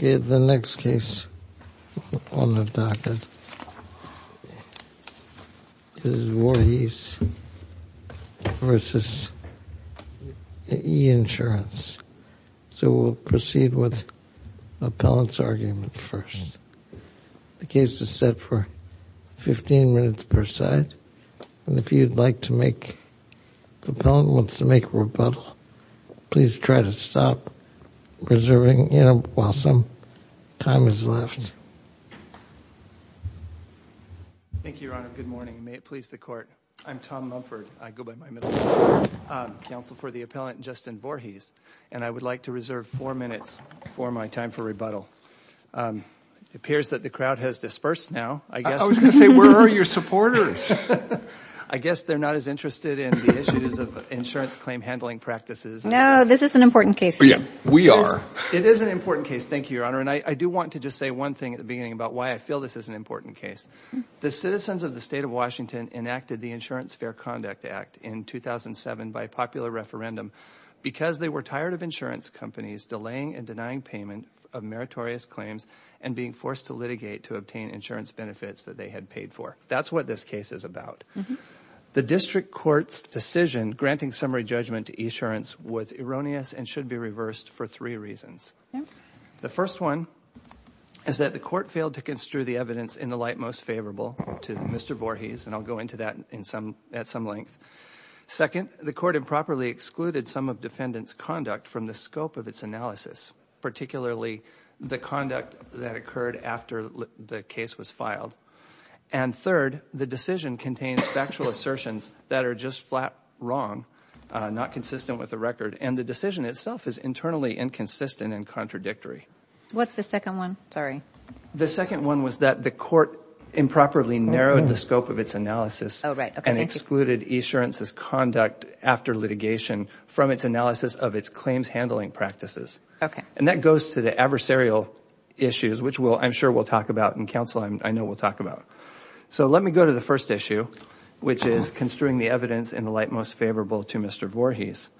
The next case on the docket is Vorhees v. E-Insurance. So we'll proceed with appellant's argument first. The case is set for 15 minutes per side and if you'd like to make, the appellant wants to make a rebuttal, please try to stop preserving, you know, while some time is left. Thank you, Your Honor. Good morning. May it please the court. I'm Tom Mumford. I go by counsel for the appellant, Justin Vorhees, and I would like to reserve four minutes for my time for rebuttal. It appears that the crowd has dispersed now. I was gonna say, where are your supporters? I guess they're not as interested in the issues of insurance claim handling practices. No, this is an important case. Yeah, we are. It is an important case, thank you, Your Honor, and I do want to just say one thing at the beginning about why I feel this is an important case. The citizens of the state of Washington enacted the Insurance Fair Conduct Act in 2007 by popular referendum because they were tired of insurance companies delaying and denying payment of meritorious claims and being forced to litigate to obtain insurance benefits that they had paid for. That's what this case is about. The district court's decision granting summary judgment to e-insurance was erroneous and should be reversed for three reasons. The first one is that the court failed to construe the evidence in the light most favorable to Mr. Vorhees, and I'll go into that at some length. Second, the court improperly excluded some of defendants' conduct from the scope of its analysis, particularly the conduct that occurred after the case was filed. And third, the decision contains factual assertions that are just flat wrong, not consistent with the record, and the decision itself is internally inconsistent and contradictory. What's the second one? Sorry. The second one was that the court improperly narrowed the scope of its analysis and excluded e-insurance's conduct after litigation from its analysis of its claims handling practices. Okay. And that goes to the adversarial issues, which I'm sure we'll talk about and counsel I know will talk about. So let me go to the first issue, which is construing the evidence in the light most favorable to Mr. Vorhees.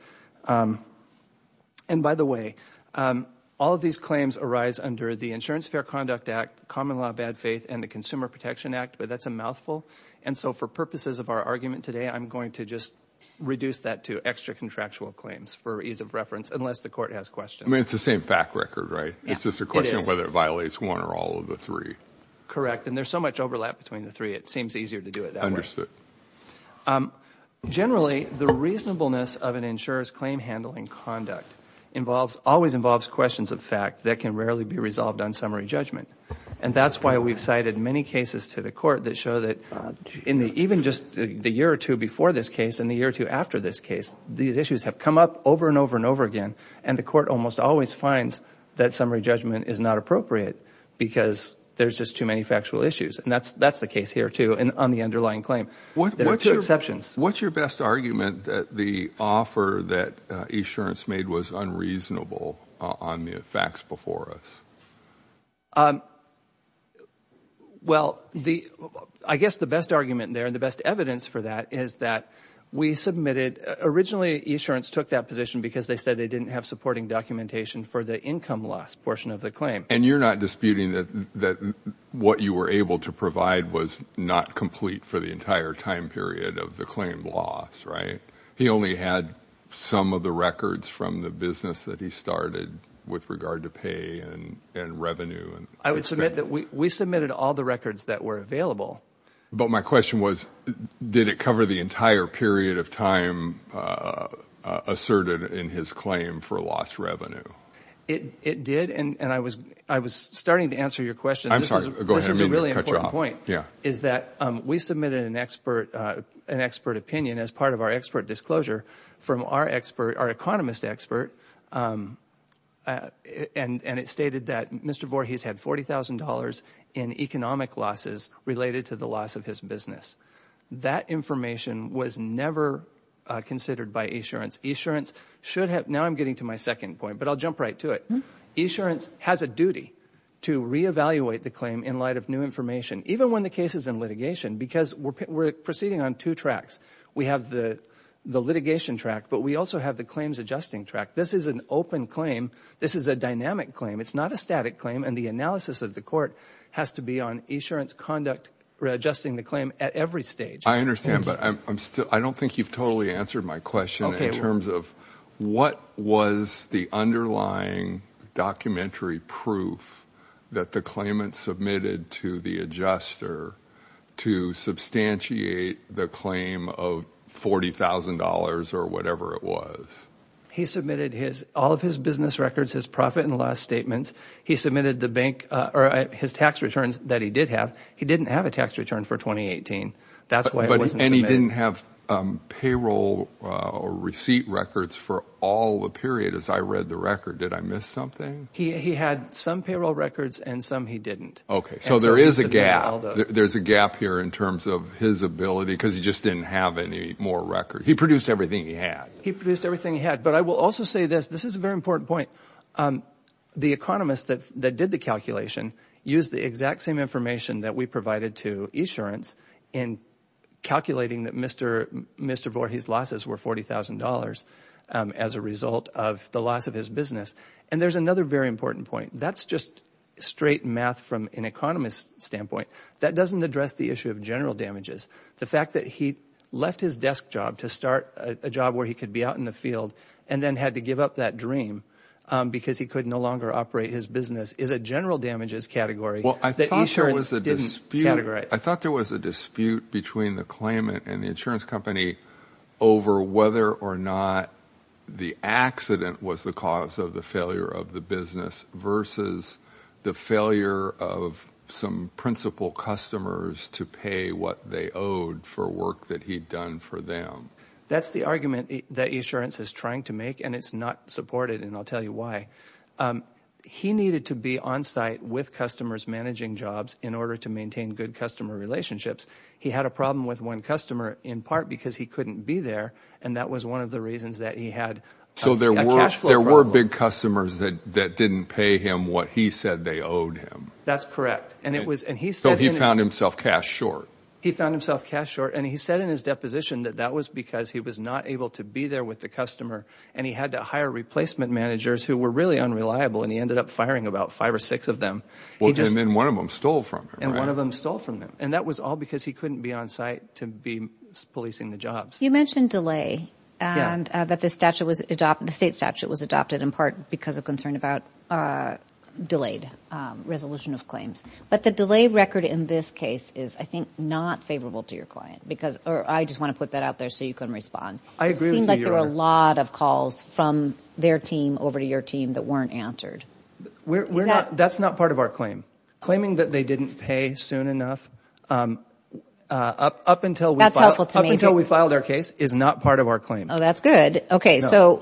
And by the way, all of these claims arise under the Insurance Fair Conduct Act, Common Law Bad Faith, and the Consumer Protection Act, but that's a mouthful. And so for purposes of our argument today, I'm going to just reduce that to extra contractual claims for ease of reference, unless the court has questions. I mean, it's the same fact record, right? It's just a question of whether it violates one or all of the three. Correct. And there's so much overlap between the three, it seems easier to do it that way. Understood. Generally, the reasonableness of an insurer's claim handling conduct involves, always involves, questions of fact that can rarely be resolved on summary judgment. And that's why we've cited many cases to the court that show that, even just the year or two before this case and the year or two after this case, these issues have come up over and over and over again, and the court almost always finds that summary judgment is not appropriate because there's just too many factual issues. And that's the case here, too, on the underlying claim. What's your best argument that the offer that eAssurance made was unreasonable on the facts before us? Well, I guess the best argument there and the best evidence for that is that we submitted, originally eAssurance took that position because they said they didn't have supporting documentation for the income loss portion of the claim. And you're not disputing that what you were able to provide was not complete for the entire time period of the claim loss, right? He only had some of the records from the business that he started with regard to pay and revenue. I would submit that we submitted all the records that were available. But my question was, did it cover the entire period of time asserted in his claim for lost revenue? It did, and I was starting to answer your question. This is a really important point, is that we submitted an expert opinion as part of our expert disclosure from our economist expert, and it stated that Mr. Voorhees had $40,000 in economic losses related to the loss of his business. That information was never considered by eAssurance. eAssurance should have, now I'm getting to my second point, but I'll the claim in light of new information. Even when the case is in litigation, because we're proceeding on two tracks. We have the litigation track, but we also have the claims adjusting track. This is an open claim. This is a dynamic claim. It's not a static claim, and the analysis of the court has to be on eAssurance conduct, readjusting the claim at every stage. I understand, but I don't think you've totally answered my question in terms of what was the underlying documentary proof that the claimant submitted to the adjuster to substantiate the claim of $40,000 or whatever it was. He submitted his, all of his business records, his profit and loss statements. He submitted the bank, or his tax returns that he did have. He didn't have a tax return for 2018. That's why it And he didn't have payroll or receipt records for all the period as I read the record. Did I miss something? He had some payroll records and some he didn't. Okay, so there is a gap. There's a gap here in terms of his ability because he just didn't have any more records. He produced everything he had. He produced everything he had, but I will also say this. This is a very important point. The economists that did the calculation used the exact same information that we provided to insurance in calculating that Mr. Voorhees' losses were $40,000 as a result of the loss of his business. And there's another very important point. That's just straight math from an economist's standpoint. That doesn't address the issue of general damages. The fact that he left his desk job to start a job where he could be out in the field and then had to give up that dream because he could no longer operate his business is a I thought there was a dispute between the claimant and the insurance company over whether or not the accident was the cause of the failure of the business versus the failure of some principal customers to pay what they owed for work that he'd done for them. That's the argument that insurance is trying to make and it's not supported and I'll tell you why. He needed to be on site with customers managing jobs in order to maintain good customer relationships. He had a problem with one customer in part because he couldn't be there and that was one of the reasons that he had a cash flow problem. So there were big customers that didn't pay him what he said they owed him. That's correct. So he found himself cash short. He found himself cash short and he said in his deposition that that was because he was not able to be there with the customer and he had to hire replacement managers who were really unreliable and he ended up firing about five or six of them. Well, Jim, one of them stole from him, right? And one of them stole from him and that was all because he couldn't be on site to be policing the jobs. You mentioned delay and that the statute was adopted, the state statute was adopted in part because of concern about delayed resolution of claims. But the delay record in this case is I think not favorable to your client because or I just want to put that out there so you can respond. I agree with you. It seemed like there were a lot of calls from their team over to your team that weren't answered. That's not part of our claim. Claiming that they didn't pay soon enough up until we filed our case is not part of our claim. Oh, that's good. Okay. So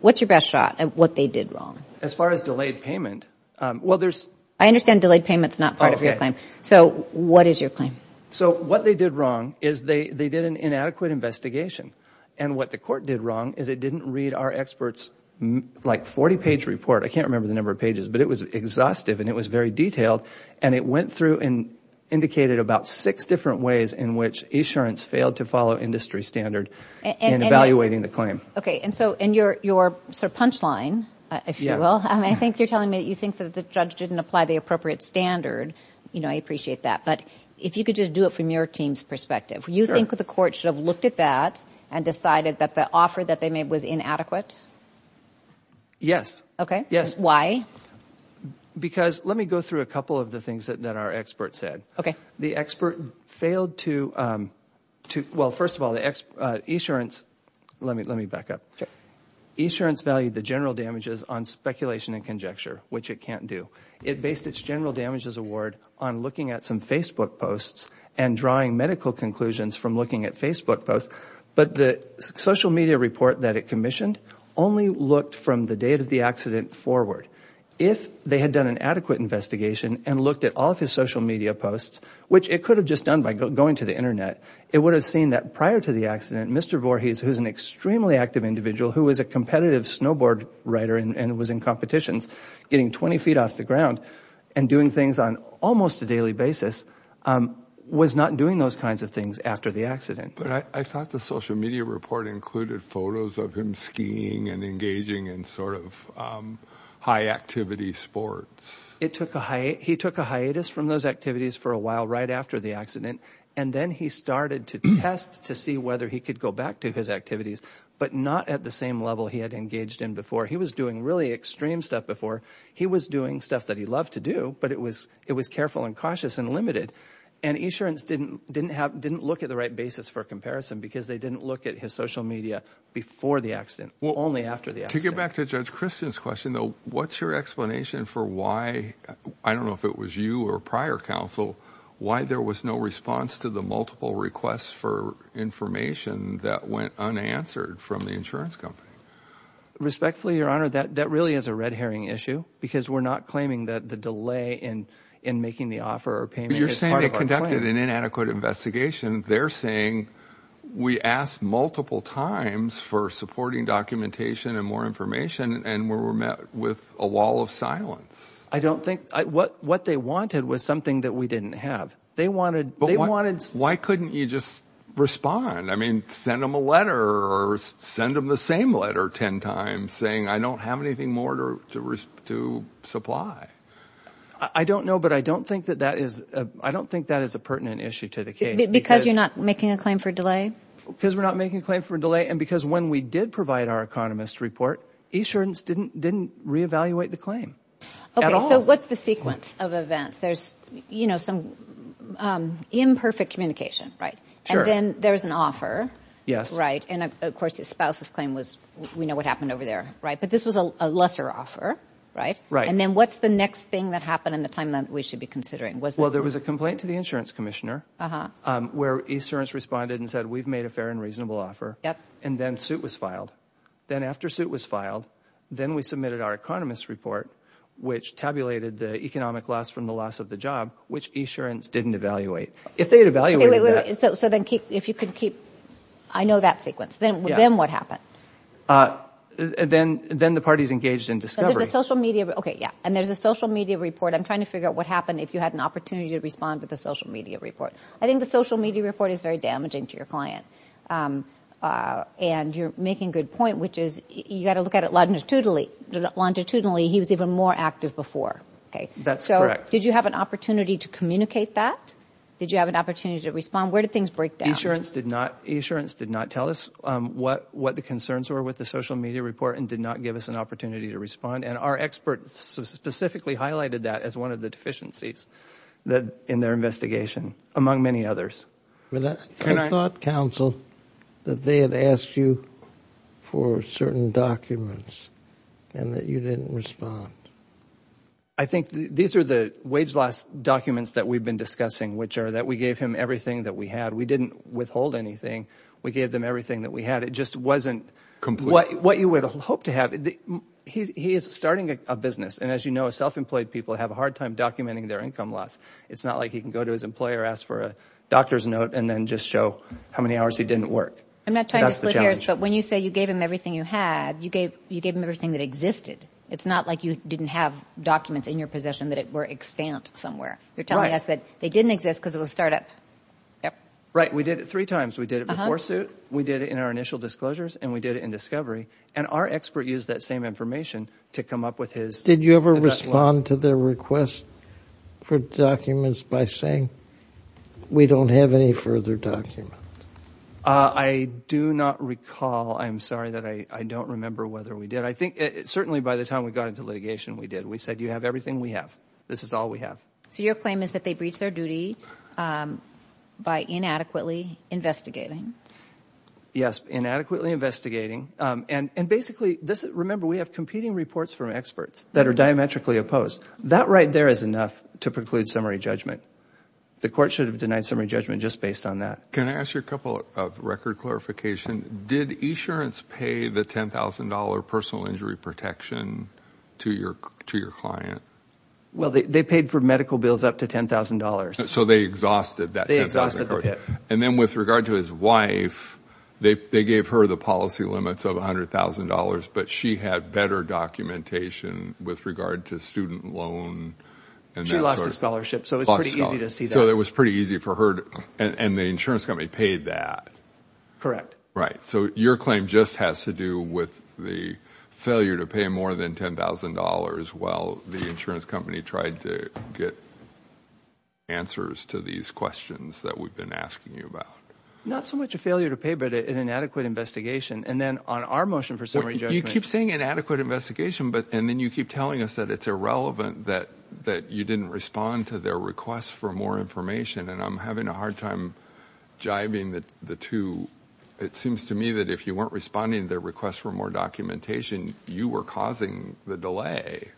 what's your best shot at what they did wrong? As far as delayed payment, well, there's... I understand delayed payment's not part of your claim. So what is your claim? So what they did wrong is they did an inadequate investigation. And what the court did wrong is it didn't read our expert's like 40-page report. I can't remember the number of pages, but it was exhaustive and it was very detailed. And it went through and indicated about six different ways in which insurance failed to follow industry standard in evaluating the claim. Okay. And so in your sort of punchline, if you will, I think you're telling me that you think that the judge didn't apply the appropriate standard. You know, I appreciate that. But if you could just do it from your team's perspective, you think that the court should have looked at that and decided that the offer that they made was inadequate? Yes. Okay. Yes. Why? Because, let me go through a couple of the things that our expert said. The expert failed to, well, first of all, the insurance, let me back up. Insurance valued the general damages on speculation and conjecture, which it can't do. It based its general damages award on looking at some Facebook posts and drawing medical conclusions from looking at Facebook posts. But the social media report that it commissioned only looked from the date of the accident forward. If they had done an adequate investigation and looked at all of his social media posts, which it could have just done by going to the Internet, it would have seen that prior to the accident, Mr. Voorhees, who is an extremely active individual, who is a competitive snowboard rider and was in competitions, getting 20 feet off the ground and doing things on almost a daily basis, was not doing those kinds of things after the accident. But I thought the social media report included photos of him skiing and engaging in sort of high-activity sports. He took a hiatus from those activities for a while right after the accident, and then he started to test to see whether he could go back to his activities, but not at the same level he had engaged in before. He was doing really extreme stuff before. He was doing stuff that he loved to do, but it was careful and cautious and limited. And insurance didn't look at the right basis for a comparison because they didn't look at his social media before the accident, only after the accident. To get back to Judge Christian's question, though, what's your explanation for why, I don't know if it was you or prior counsel, why there was no response to the multiple requests for information that went unanswered from the insurance company? Respectfully, Your Honor, that really is a red herring issue because we're not claiming that the delay in making the offer or payment is part of our plan. But you're saying they conducted an inadequate investigation. They're saying, we asked multiple times for supporting documentation and more information, and we were met with a wall of silence. I don't think, what they wanted was something that we didn't have. They wanted, they wanted Why couldn't you just respond? I mean, send them a letter or send them the same letter 10 times saying, I don't have anything more to supply. I don't know, but I don't think that that is, I don't think that is a pertinent issue to the case. Because you're not making a claim for delay? Because we're not making a claim for delay. And because when we did provide our economist report, insurance didn't, didn't reevaluate the claim. Okay, so what's the sequence of events? There's, you know, some imperfect communication, right? And then there's an offer. Right. And of course, his spouse's claim was, we know what happened over there. Right. But this was a lesser offer. Right. Right. And then what's the next thing that happened in the time that we should be considering? Well, there was a complaint to the insurance commissioner, where insurance responded and said, we've made a fair and reasonable offer. And then suit was filed. Then after suit was filed, then we submitted our economist report, which tabulated the economic loss from the loss of the job, which insurance didn't evaluate. If they had evaluated that. Okay, wait, wait, wait. So, so then keep, if you could keep, I know that sequence. Then, then what happened? Then the parties engaged in discovery. So there's a social media, okay, yeah. And there's a social media report. I'm trying to figure out what happened if you had an opportunity to respond to the social media report. I think the social media report is very damaging to your client. And you're making good point, which is, you got to look at it longitudinally, he was even more active before. That's correct. Did you have an opportunity to communicate that? Did you have an opportunity to respond? Where did things break down? Insurance did not, insurance did not tell us what, what the concerns were with the social media report and did not give us an opportunity to respond. And our experts specifically highlighted that as one of the deficiencies that in their investigation, among many others. I thought, counsel, that they had asked you for certain documents and that you didn't respond. I think these are the wage loss documents that we've been discussing, which are that we gave him everything that we had. We didn't withhold anything. We gave them everything that we had. It just wasn't what you would hope to have. He is starting a business and as you know, self-employed people have a hard time documenting their income loss. It's not like he can go to his employer, ask for a doctor's note, and then just show how many hours he didn't work. I'm not trying to split hairs, but when you say you gave him everything you had, you gave him everything that existed. It's not like you didn't have documents in your possession that were extant somewhere. You're telling us that they didn't exist because it was a startup. Right. We did it three times. We did it before suit, we did it in our initial disclosures, and we did it in discovery. And our expert used that same information to come up with his. Did you ever respond to their request for documents by saying, we don't have any further documents? I do not recall. I'm sorry that I don't remember whether we did. I think certainly by the time we got into litigation, we did. We said, you have everything we have. This is all we have. So your claim is that they breached their duty by inadequately investigating. Yes, inadequately investigating. And basically, remember, we have competing reports from experts that are diametrically opposed. That right there is enough to preclude summary judgment. The court should have denied summary judgment just based on that. Can I ask you a couple of record clarification? Did insurance pay the $10,000 personal injury protection to your client? Well, they paid for medical bills up to $10,000. So they exhausted that $10,000. And then with regard to his wife, they gave her the policy limits of $100,000. But she had better documentation with regard to student loan. She lost a scholarship. So it was pretty easy to see that. So it was pretty easy for her. And the insurance company paid that. Correct. Right. So your claim just has to do with the failure to pay more than $10,000 while the insurance company tried to get answers to these questions that we've been asking you about. Not so much a failure to pay, but an inadequate investigation. And then on our motion for summary judgment. You keep saying inadequate investigation. And then you keep telling us that it's irrelevant that you didn't respond to their request for more information. And I'm having a hard time jiving the two. It seems to me that if you weren't responding to their request for more documentation, you were causing the delay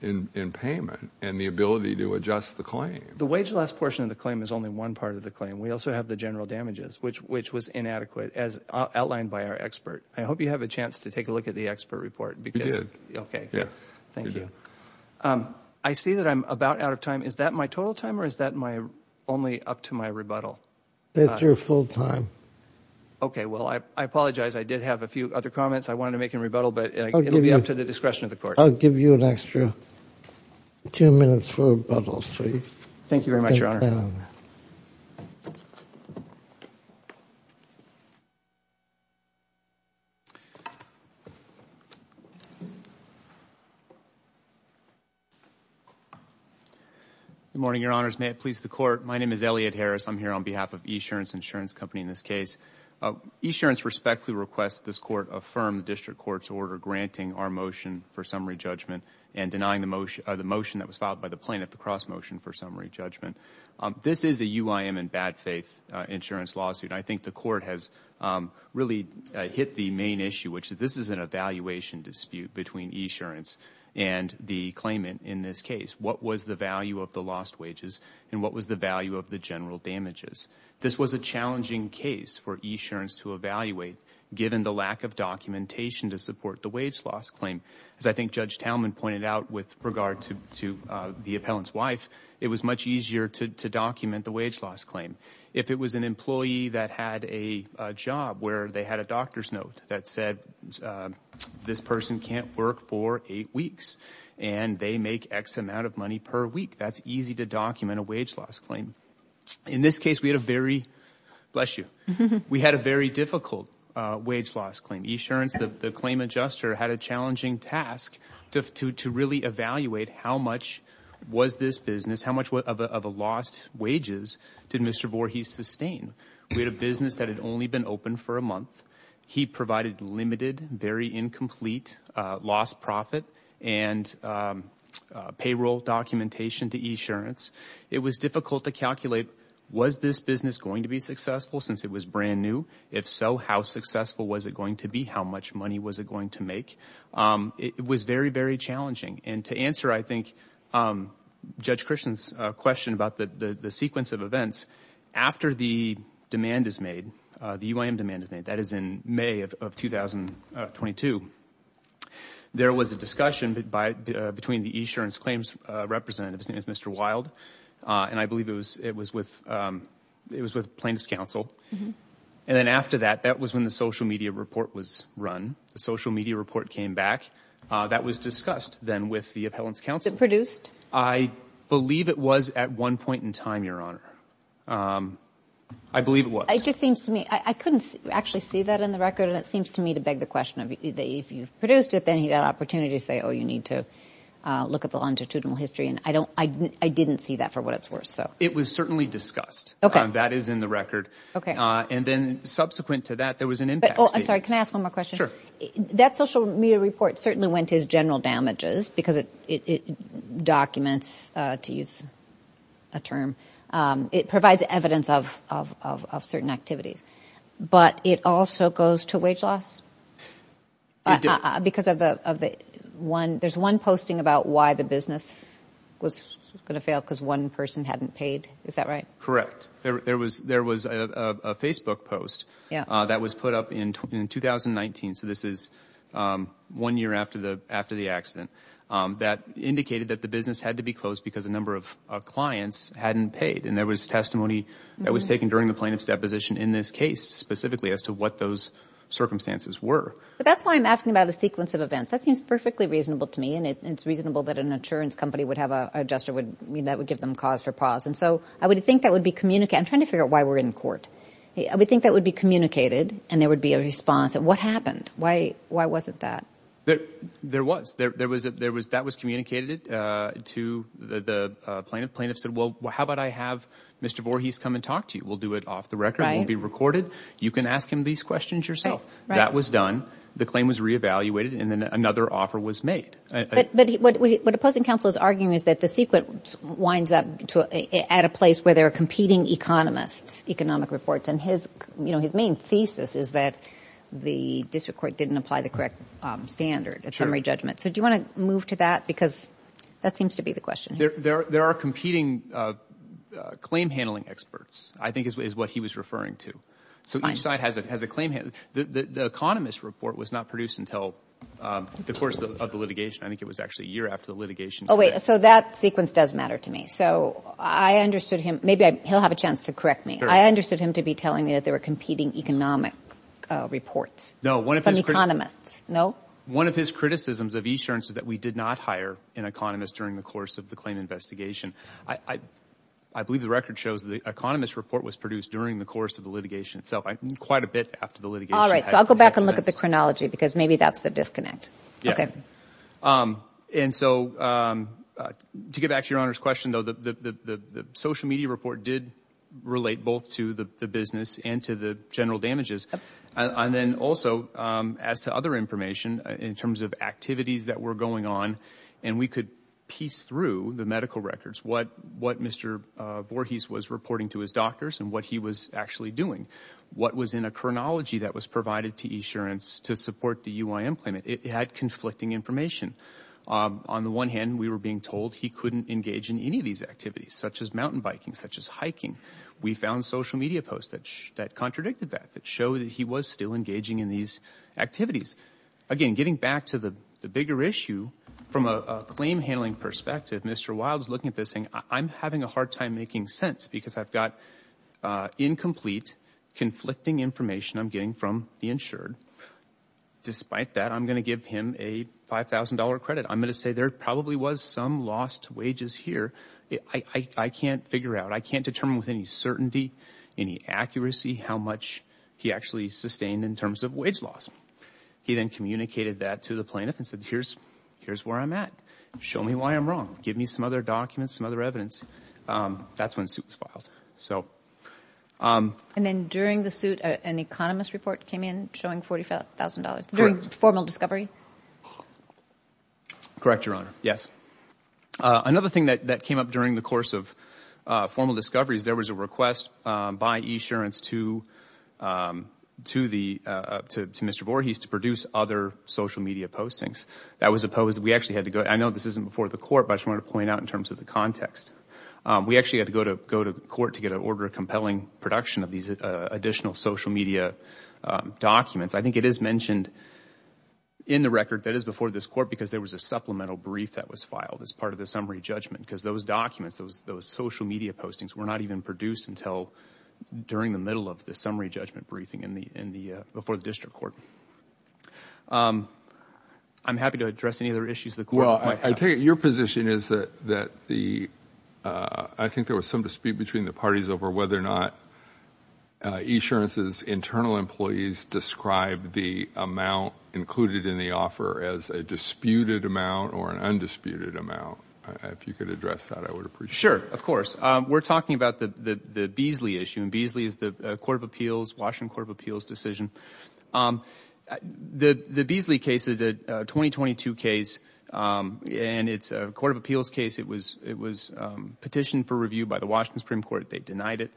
in payment and the ability to adjust the claim. The wage loss portion of the claim is only one part of the claim. We also have the general damages, which was inadequate, as outlined by our expert. I hope you have a chance to take a look at the expert report. We did. Okay. Thank you. I see that I'm about out of time. Is that my total time or is that only up to my rebuttal? That's your full time. Okay. Well, I apologize. I did have a few other comments. I wanted to make a rebuttal. I'll give you an extra two minutes for rebuttals. Thank you very much, Your Honor. Good morning, Your Honors. May it please the Court. My name is Elliot Harris. I'm here on behalf of eAssurance Insurance Company in this case. eAssurance respectfully requests this Court affirm the District Court's order granting our motion for summary judgment and denying the motion that was filed by the plaintiff, the cross motion for summary judgment. This is a UIM and bad faith insurance lawsuit. I think the Court has really hit the main issue, which this is an evaluation dispute between eAssurance and the claimant in this case. What was the value of the lost wages and what was the value of the general damages? This was a challenging case for eAssurance to evaluate given the lack of documentation to support the wage loss claim. As I think Judge Talman pointed out with regard to the appellant's wife, it was much easier to document the wage loss claim. If it was an employee that had a job where they had a doctor's note that said this person can't work for eight weeks and they make X amount of money per week, that's easy to document a wage loss claim. In this case, we had a very, bless you, we had a very difficult wage loss claim. eAssurance, the claim adjuster, had a challenging task to really evaluate how much was this business, how much of a lost wages did Mr. Voorhees sustain? We had a business that had only been open for a month. He provided limited, very incomplete, lost profit and payroll documentation to eAssurance. It was difficult to calculate, was this business going to be successful since it was brand new? If so, how successful was it going to be? How much money was it going to make? It was very, very challenging. To answer, I think, Judge Christian's question about the sequence of events, after the demand is made, the UIM demand is made, that is in May of 2022, there was a discussion between the eAssurance claims representative, his name is Mr. Wild, and I believe it was with plaintiff's counsel, and then after that, that was when the social media report was run. The social media report came back. That was discussed then with the appellant's counsel. I believe it was at one point in time, Your Honor. I believe it was. It just seems to me, I couldn't actually see that in the record and it seems to me to beg the question, if you've produced it, then you've got an opportunity to say, oh, you need to look at the longitudinal history, and I didn't see that for what it's worth. It was certainly discussed. That is in the record. And then subsequent to that, there was an impact. I'm sorry, can I ask one more question? That social media report certainly went to its general damages because it documents, to use a term, it provides evidence of certain activities. But it also goes to wage loss? Because there's one posting about why the business was going to fail because one person hadn't paid. Is that right? There was a Facebook post that was put up in 2019, so this is one year after the accident, that indicated that the business had to be closed because a number of clients hadn't paid. And there was testimony that was taken during the plaintiff's deposition in this case specifically as to what those circumstances were. But that's why I'm asking about the sequence of events. That seems perfectly reasonable to me, and it's reasonable that an insurance company would have an adjuster that would give them cause for pause. And so I would think that would be communicated. I'm trying to figure out why we're in court. I would think that would be communicated and there would be a response. What happened? Why wasn't that? There was. That was communicated to the plaintiff. The plaintiff said, well, how about I have Mr. Voorhees come and talk to you? We'll do it off the record. It won't be recorded. You can ask him these questions yourself. That was done. The claim was re-evaluated and then another offer was made. But what opposing counsel is arguing is that the sequence winds up at a place where there are competing economists, economic reports, and his, you know, his main thesis is that the district court didn't apply the correct standard at summary judgment. So do you want to move to that? Because that seems to be the question. There are competing claim handling experts, I think is what he was referring to. So each side has a claim. The economist report was not produced until the course of the litigation. I think it was actually a year after the litigation. Oh, wait. So that sequence does matter to me. So I understood him. Maybe he'll have a chance to correct me. I understood him to be telling me that there were competing economic reports from economists. No? One of his criticisms of e-assurance is that we did not hire an economist during the course of the claim investigation. I believe the record shows the economist report was produced during the course of the litigation itself. Quite a bit after the litigation. So I'll go back and look at the chronology because maybe that's the disconnect. Yeah. Okay. And so to get back to your Honor's question, though, the social media report did relate both to the business and to the general damages. And then also as to other information in terms of activities that were going on, and we could piece through the medical records what Mr. Voorhees was reporting to his doctors and what he was actually doing. What was in a chronology that was provided to e-assurance to support the UIM claimant? It had conflicting information. On the one hand, we were being told he couldn't engage in any of these activities, such as mountain biking, such as hiking. We found social media posts that contradicted that, that showed that he was still engaging in these activities. Again, getting back to the bigger issue, from a claim handling perspective, Mr. Wild is looking at this thing. I'm having a hard time making sense because I've got incomplete, conflicting information I'm getting from the insured. Despite that, I'm going to give him a $5,000 credit. I'm going to say there probably was some lost wages here. I can't figure out. I can't determine with any certainty, any accuracy how much he actually sustained in terms of wage loss. He then communicated that to the plaintiff and said, here's where I'm at. Show me why I'm wrong. Give me some other documents, some other evidence. That's when the suit was filed. And then during the suit, an economist report came in showing $45,000, during formal discovery? Correct, Your Honor, yes. Another thing that came up during the course of formal discovery is there was a request by e-assurance to Mr. Voorhees to produce other social media postings. That was opposed. I know this isn't before the court, but I just wanted to point out in terms of the context. We actually had to go to court to get an order of compelling production of these additional social media documents. I think it is mentioned in the record that is before this court because there was a supplemental brief that was filed as part of the summary judgment because those documents, those social media postings, were not even produced until during the middle of the summary judgment briefing before the district court. I'm happy to address any other issues the court might have. Well, I take it your position is that I think there was some dispute between the parties over whether or not e-assurance's internal employees described the amount included in the offer as a disputed amount or an undisputed amount. If you could address that, I would appreciate it. Sure. Of course. We're talking about the Beasley issue. Beasley is the Washington Court of Appeals decision. The Beasley case is a 2022 case. It's a court of appeals case. It was petitioned for review by the Washington Supreme Court. They denied it.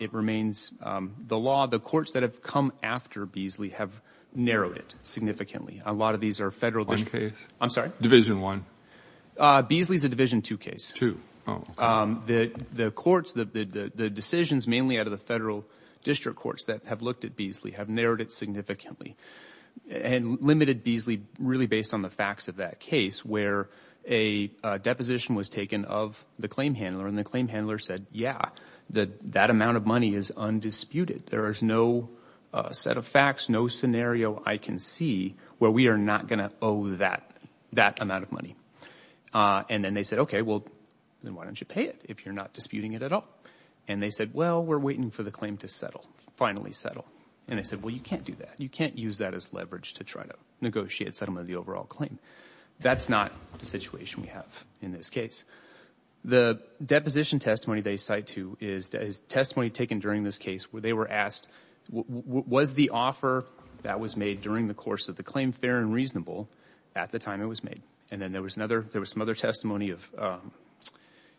It remains the law. The courts that have come after Beasley have narrowed it significantly. A lot of these are federal... One case. I'm sorry? Division one. Beasley is a division two case. Two. The courts... The decisions mainly out of the federal district courts that have looked at Beasley have narrowed it significantly and limited Beasley really based on the facts of that case where a deposition was taken of the claim handler and the claim handler said, yeah, that amount of money is undisputed. There is no set of facts, no scenario I can see where we are not going to owe that amount of money. And then they said, okay, well, then why don't you pay it if you're not disputing it at all? And they said, well, we're waiting for the claim to settle, finally settle. And they said, well, you can't do that. You can't use that as leverage to try to negotiate settlement of the overall claim. That's not the situation we have in this case. The deposition testimony they cite to is testimony taken during this case where they were asked, was the offer that was made during the course of the claim fair and reasonable at the time it was made? And then there was some other testimony of the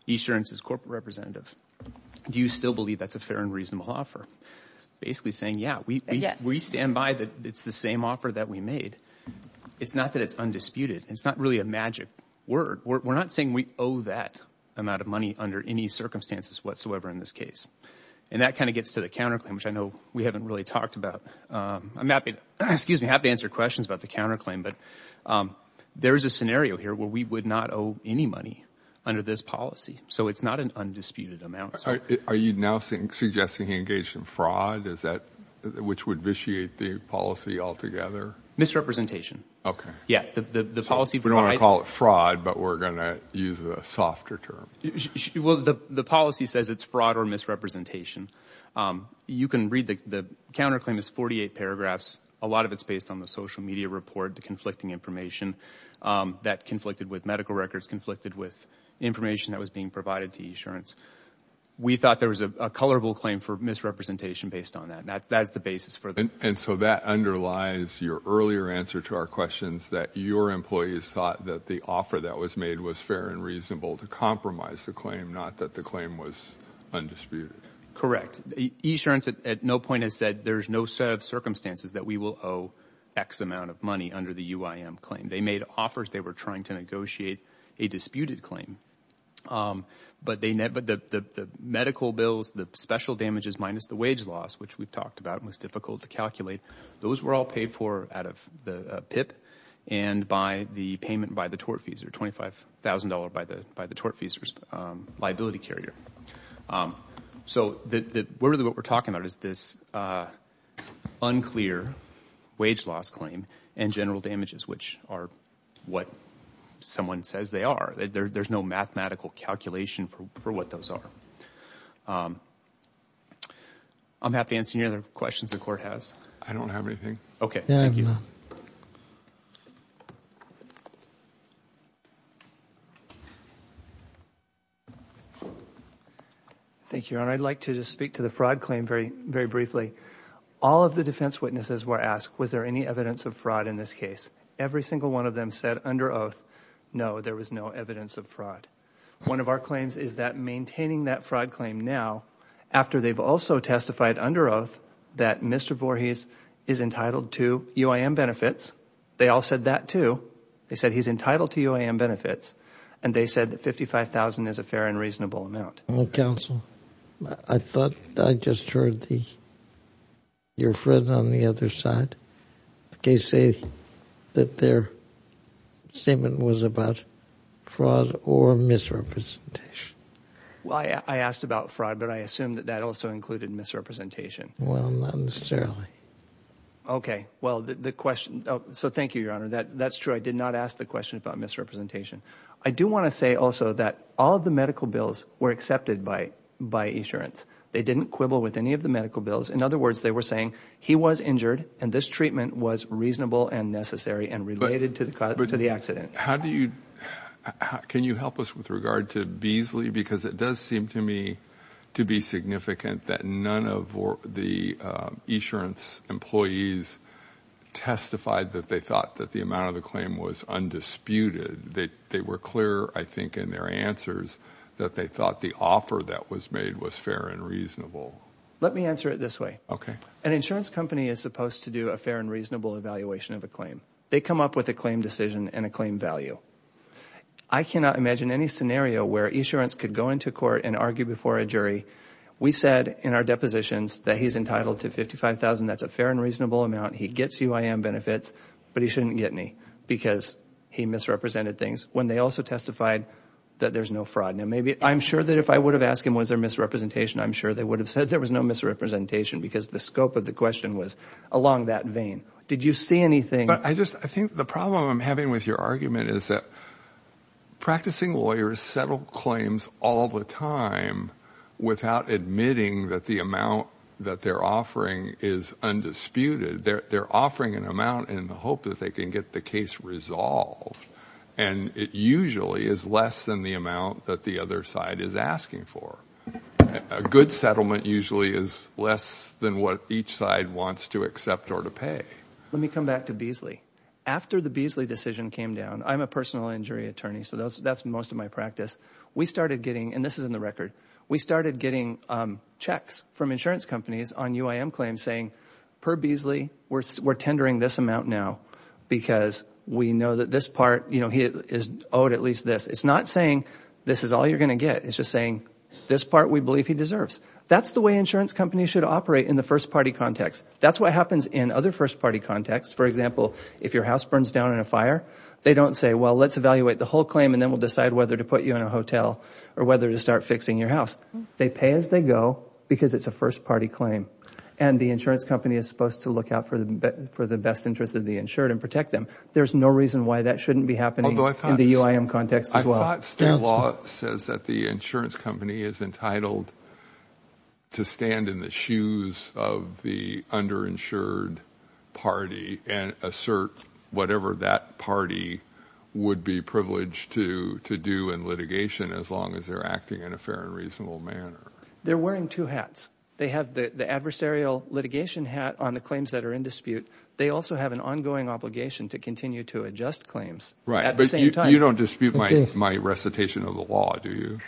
insurance's corporate representative. Do you still believe that's a fair and reasonable offer? Basically saying, yeah, we stand by that it's the same offer that we made. It's not that it's undisputed. It's not really a magic word. We're not saying we owe that amount of money under any circumstances whatsoever in this case. And that kind of gets to the counterclaim, which I know we haven't really talked about. I'm happy to answer questions about the counterclaim, but there is a scenario here where we would not owe any money under this policy. So it's not an undisputed amount. Are you now suggesting he engaged in fraud? Which would vitiate the policy altogether? Misrepresentation. OK. Yeah. The policy. We don't want to call it fraud, but we're going to use a softer term. The policy says it's fraud or misrepresentation. You can read the counterclaim is 48 paragraphs. A lot of it's based on the social media report, the conflicting information that conflicted with medical records, conflicted with information that was being provided to eAssurance. We thought there was a colorable claim for misrepresentation based on that. That's the basis for it. And so that underlies your earlier answer to our questions that your employees thought that the offer that was made was fair and reasonable to compromise the claim, not that the claim was undisputed. Correct. eAssurance at no point has said there's no set of circumstances that we will owe X amount of money under the UIM claim. They made offers. They were trying to negotiate a disputed claim, but the medical bills, the special damages minus the wage loss, which we've talked about and was difficult to calculate, those were all paid for out of the PIP and by the payment by the tortfeasor, $25,000 by the tortfeasor's liability carrier. So, really what we're talking about is this unclear wage loss claim and general damages, which are what someone says they are. There's no mathematical calculation for what those are. I'm happy to answer any other questions the Court has. I don't have anything. Okay. Thank you. Thank you, Your Honor. I'd like to just speak to the fraud claim very briefly. All of the defense witnesses were asked, was there any evidence of fraud in this case? Every single one of them said under oath, no, there was no evidence of fraud. One of our claims is that maintaining that fraud claim now, after they've also testified under oath that Mr. Voorhees is entitled to UIM benefits, they all said that, too. They said he's entitled to UIM benefits, and they said that $55,000 is a fair and reasonable amount. Counsel, I thought I just heard your friend on the other side say that their statement was about fraud or misrepresentation. Well, I asked about fraud, but I assume that that also included misrepresentation. Well, no, Mr. Early. Okay. Well, the question, so thank you, Your Honor. That's true. I did not ask the question about misrepresentation. I do want to say also that all of the medical bills were accepted by insurance. They didn't quibble with any of the medical bills. In other words, they were saying he was injured, and this treatment was reasonable and necessary and related to the accident. How do you, can you help us with regard to Beasley? Because it does seem to me to be significant that none of the insurance employees testified that they thought that the amount of the claim was undisputed. They were clear, I think, in their answers that they thought the offer that was made was fair and reasonable. Let me answer it this way. Okay. An insurance company is supposed to do a fair and reasonable evaluation of a claim. They come up with a claim decision and a claim value. I cannot imagine any scenario where insurance could go into court and argue before a jury. We said in our depositions that he's entitled to $55,000. That's a fair and reasonable amount. He gets UIM benefits, but he shouldn't get any because he misrepresented things when they also testified that there's no fraud. Now, maybe, I'm sure that if I would have asked him was there misrepresentation, I'm sure they would have said there was no misrepresentation because the scope of the question was along that vein. Did you see anything? I think the problem I'm having with your argument is that practicing lawyers settle claims all the time without admitting that the amount that they're offering is undisputed. They're offering an amount in the hope that they can get the case resolved, and it usually is less than the amount that the other side is asking for. A good settlement usually is less than what each side wants to accept or to pay. Let me come back to Beasley. After the Beasley decision came down, I'm a personal injury attorney, so that's most of my practice, we started getting, and this is in the record, we started getting checks from insurance companies on UIM claims saying, per Beasley, we're tendering this amount now because we know that this part is owed at least this. It's not saying this is all you're going to get. It's just saying this part we believe he deserves. That's the way insurance companies should operate in the first party context. That's what happens in other first party contexts. For example, if your house burns down in a fire, they don't say, well, let's evaluate the whole claim and then we'll decide whether to put you in a hotel or whether to start fixing your house. They pay as they go because it's a first party claim, and the insurance company is supposed to look out for the best interest of the insured and protect them. There's no reason why that shouldn't be happening in the UIM context as well. State law says that the insurance company is entitled to stand in the shoes of the underinsured party and assert whatever that party would be privileged to do in litigation as long as they're acting in a fair and reasonable manner. They're wearing two hats. They have the adversarial litigation hat on the claims that are in dispute. They also have an ongoing obligation to continue to adjust claims at the same time. You don't dispute my recitation of the law, do you?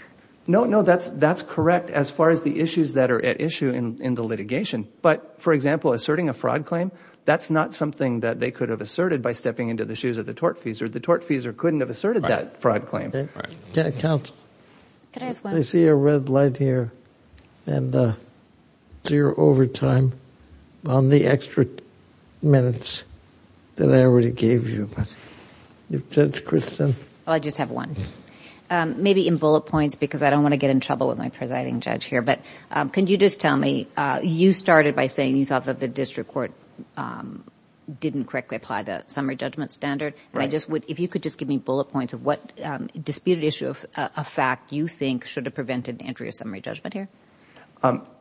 No, no, that's correct as far as the issues that are at issue in the litigation. But for example, asserting a fraud claim, that's not something that they could have asserted by stepping into the shoes of the tortfeasor. The tortfeasor couldn't have asserted that fraud claim. Counsel, I see a red light here and zero overtime on the extra minutes that I already gave you. Judge Kristen? Well, I just have one. Maybe in bullet points because I don't want to get in trouble with my presiding judge here. But can you just tell me, you started by saying you thought that the district court didn't correctly apply the summary judgment standard. If you could just give me bullet points of what disputed issue of fact you think should have prevented entry of summary judgment here.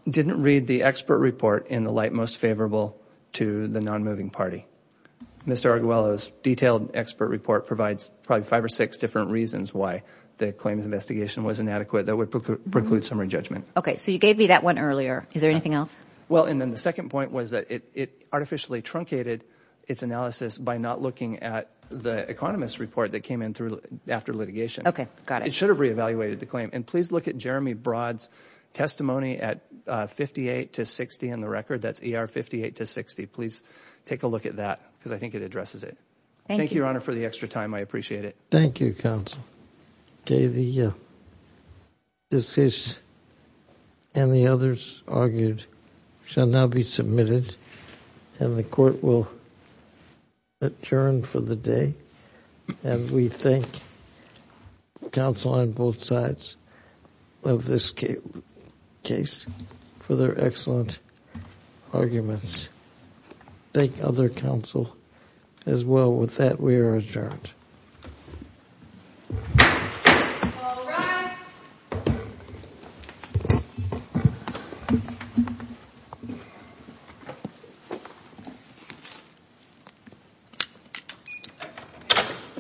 Didn't read the expert report in the light most favorable to the non-moving party. Mr. Arguello's detailed expert report provides probably five or six different reasons why the claims investigation was inadequate that would preclude summary judgment. So you gave me that one earlier. Is there anything else? Well, and then the second point was that it artificially truncated its analysis by not looking at the economist report that came in after litigation. Okay. Got it. It should have re-evaluated the claim. And please look at Jeremy Broad's testimony at 58 to 60 in the record. That's ER 58 to 60. Please take a look at that because I think it addresses it. Thank you, Your Honor, for the extra time. I appreciate it. Thank you, counsel. This case and the others argued shall now be submitted and the court will adjourn for the day. And we thank counsel on both sides of this case for their excellent arguments. Thank other counsel as well. With that, we are adjourned. All rise. Court is adjourned.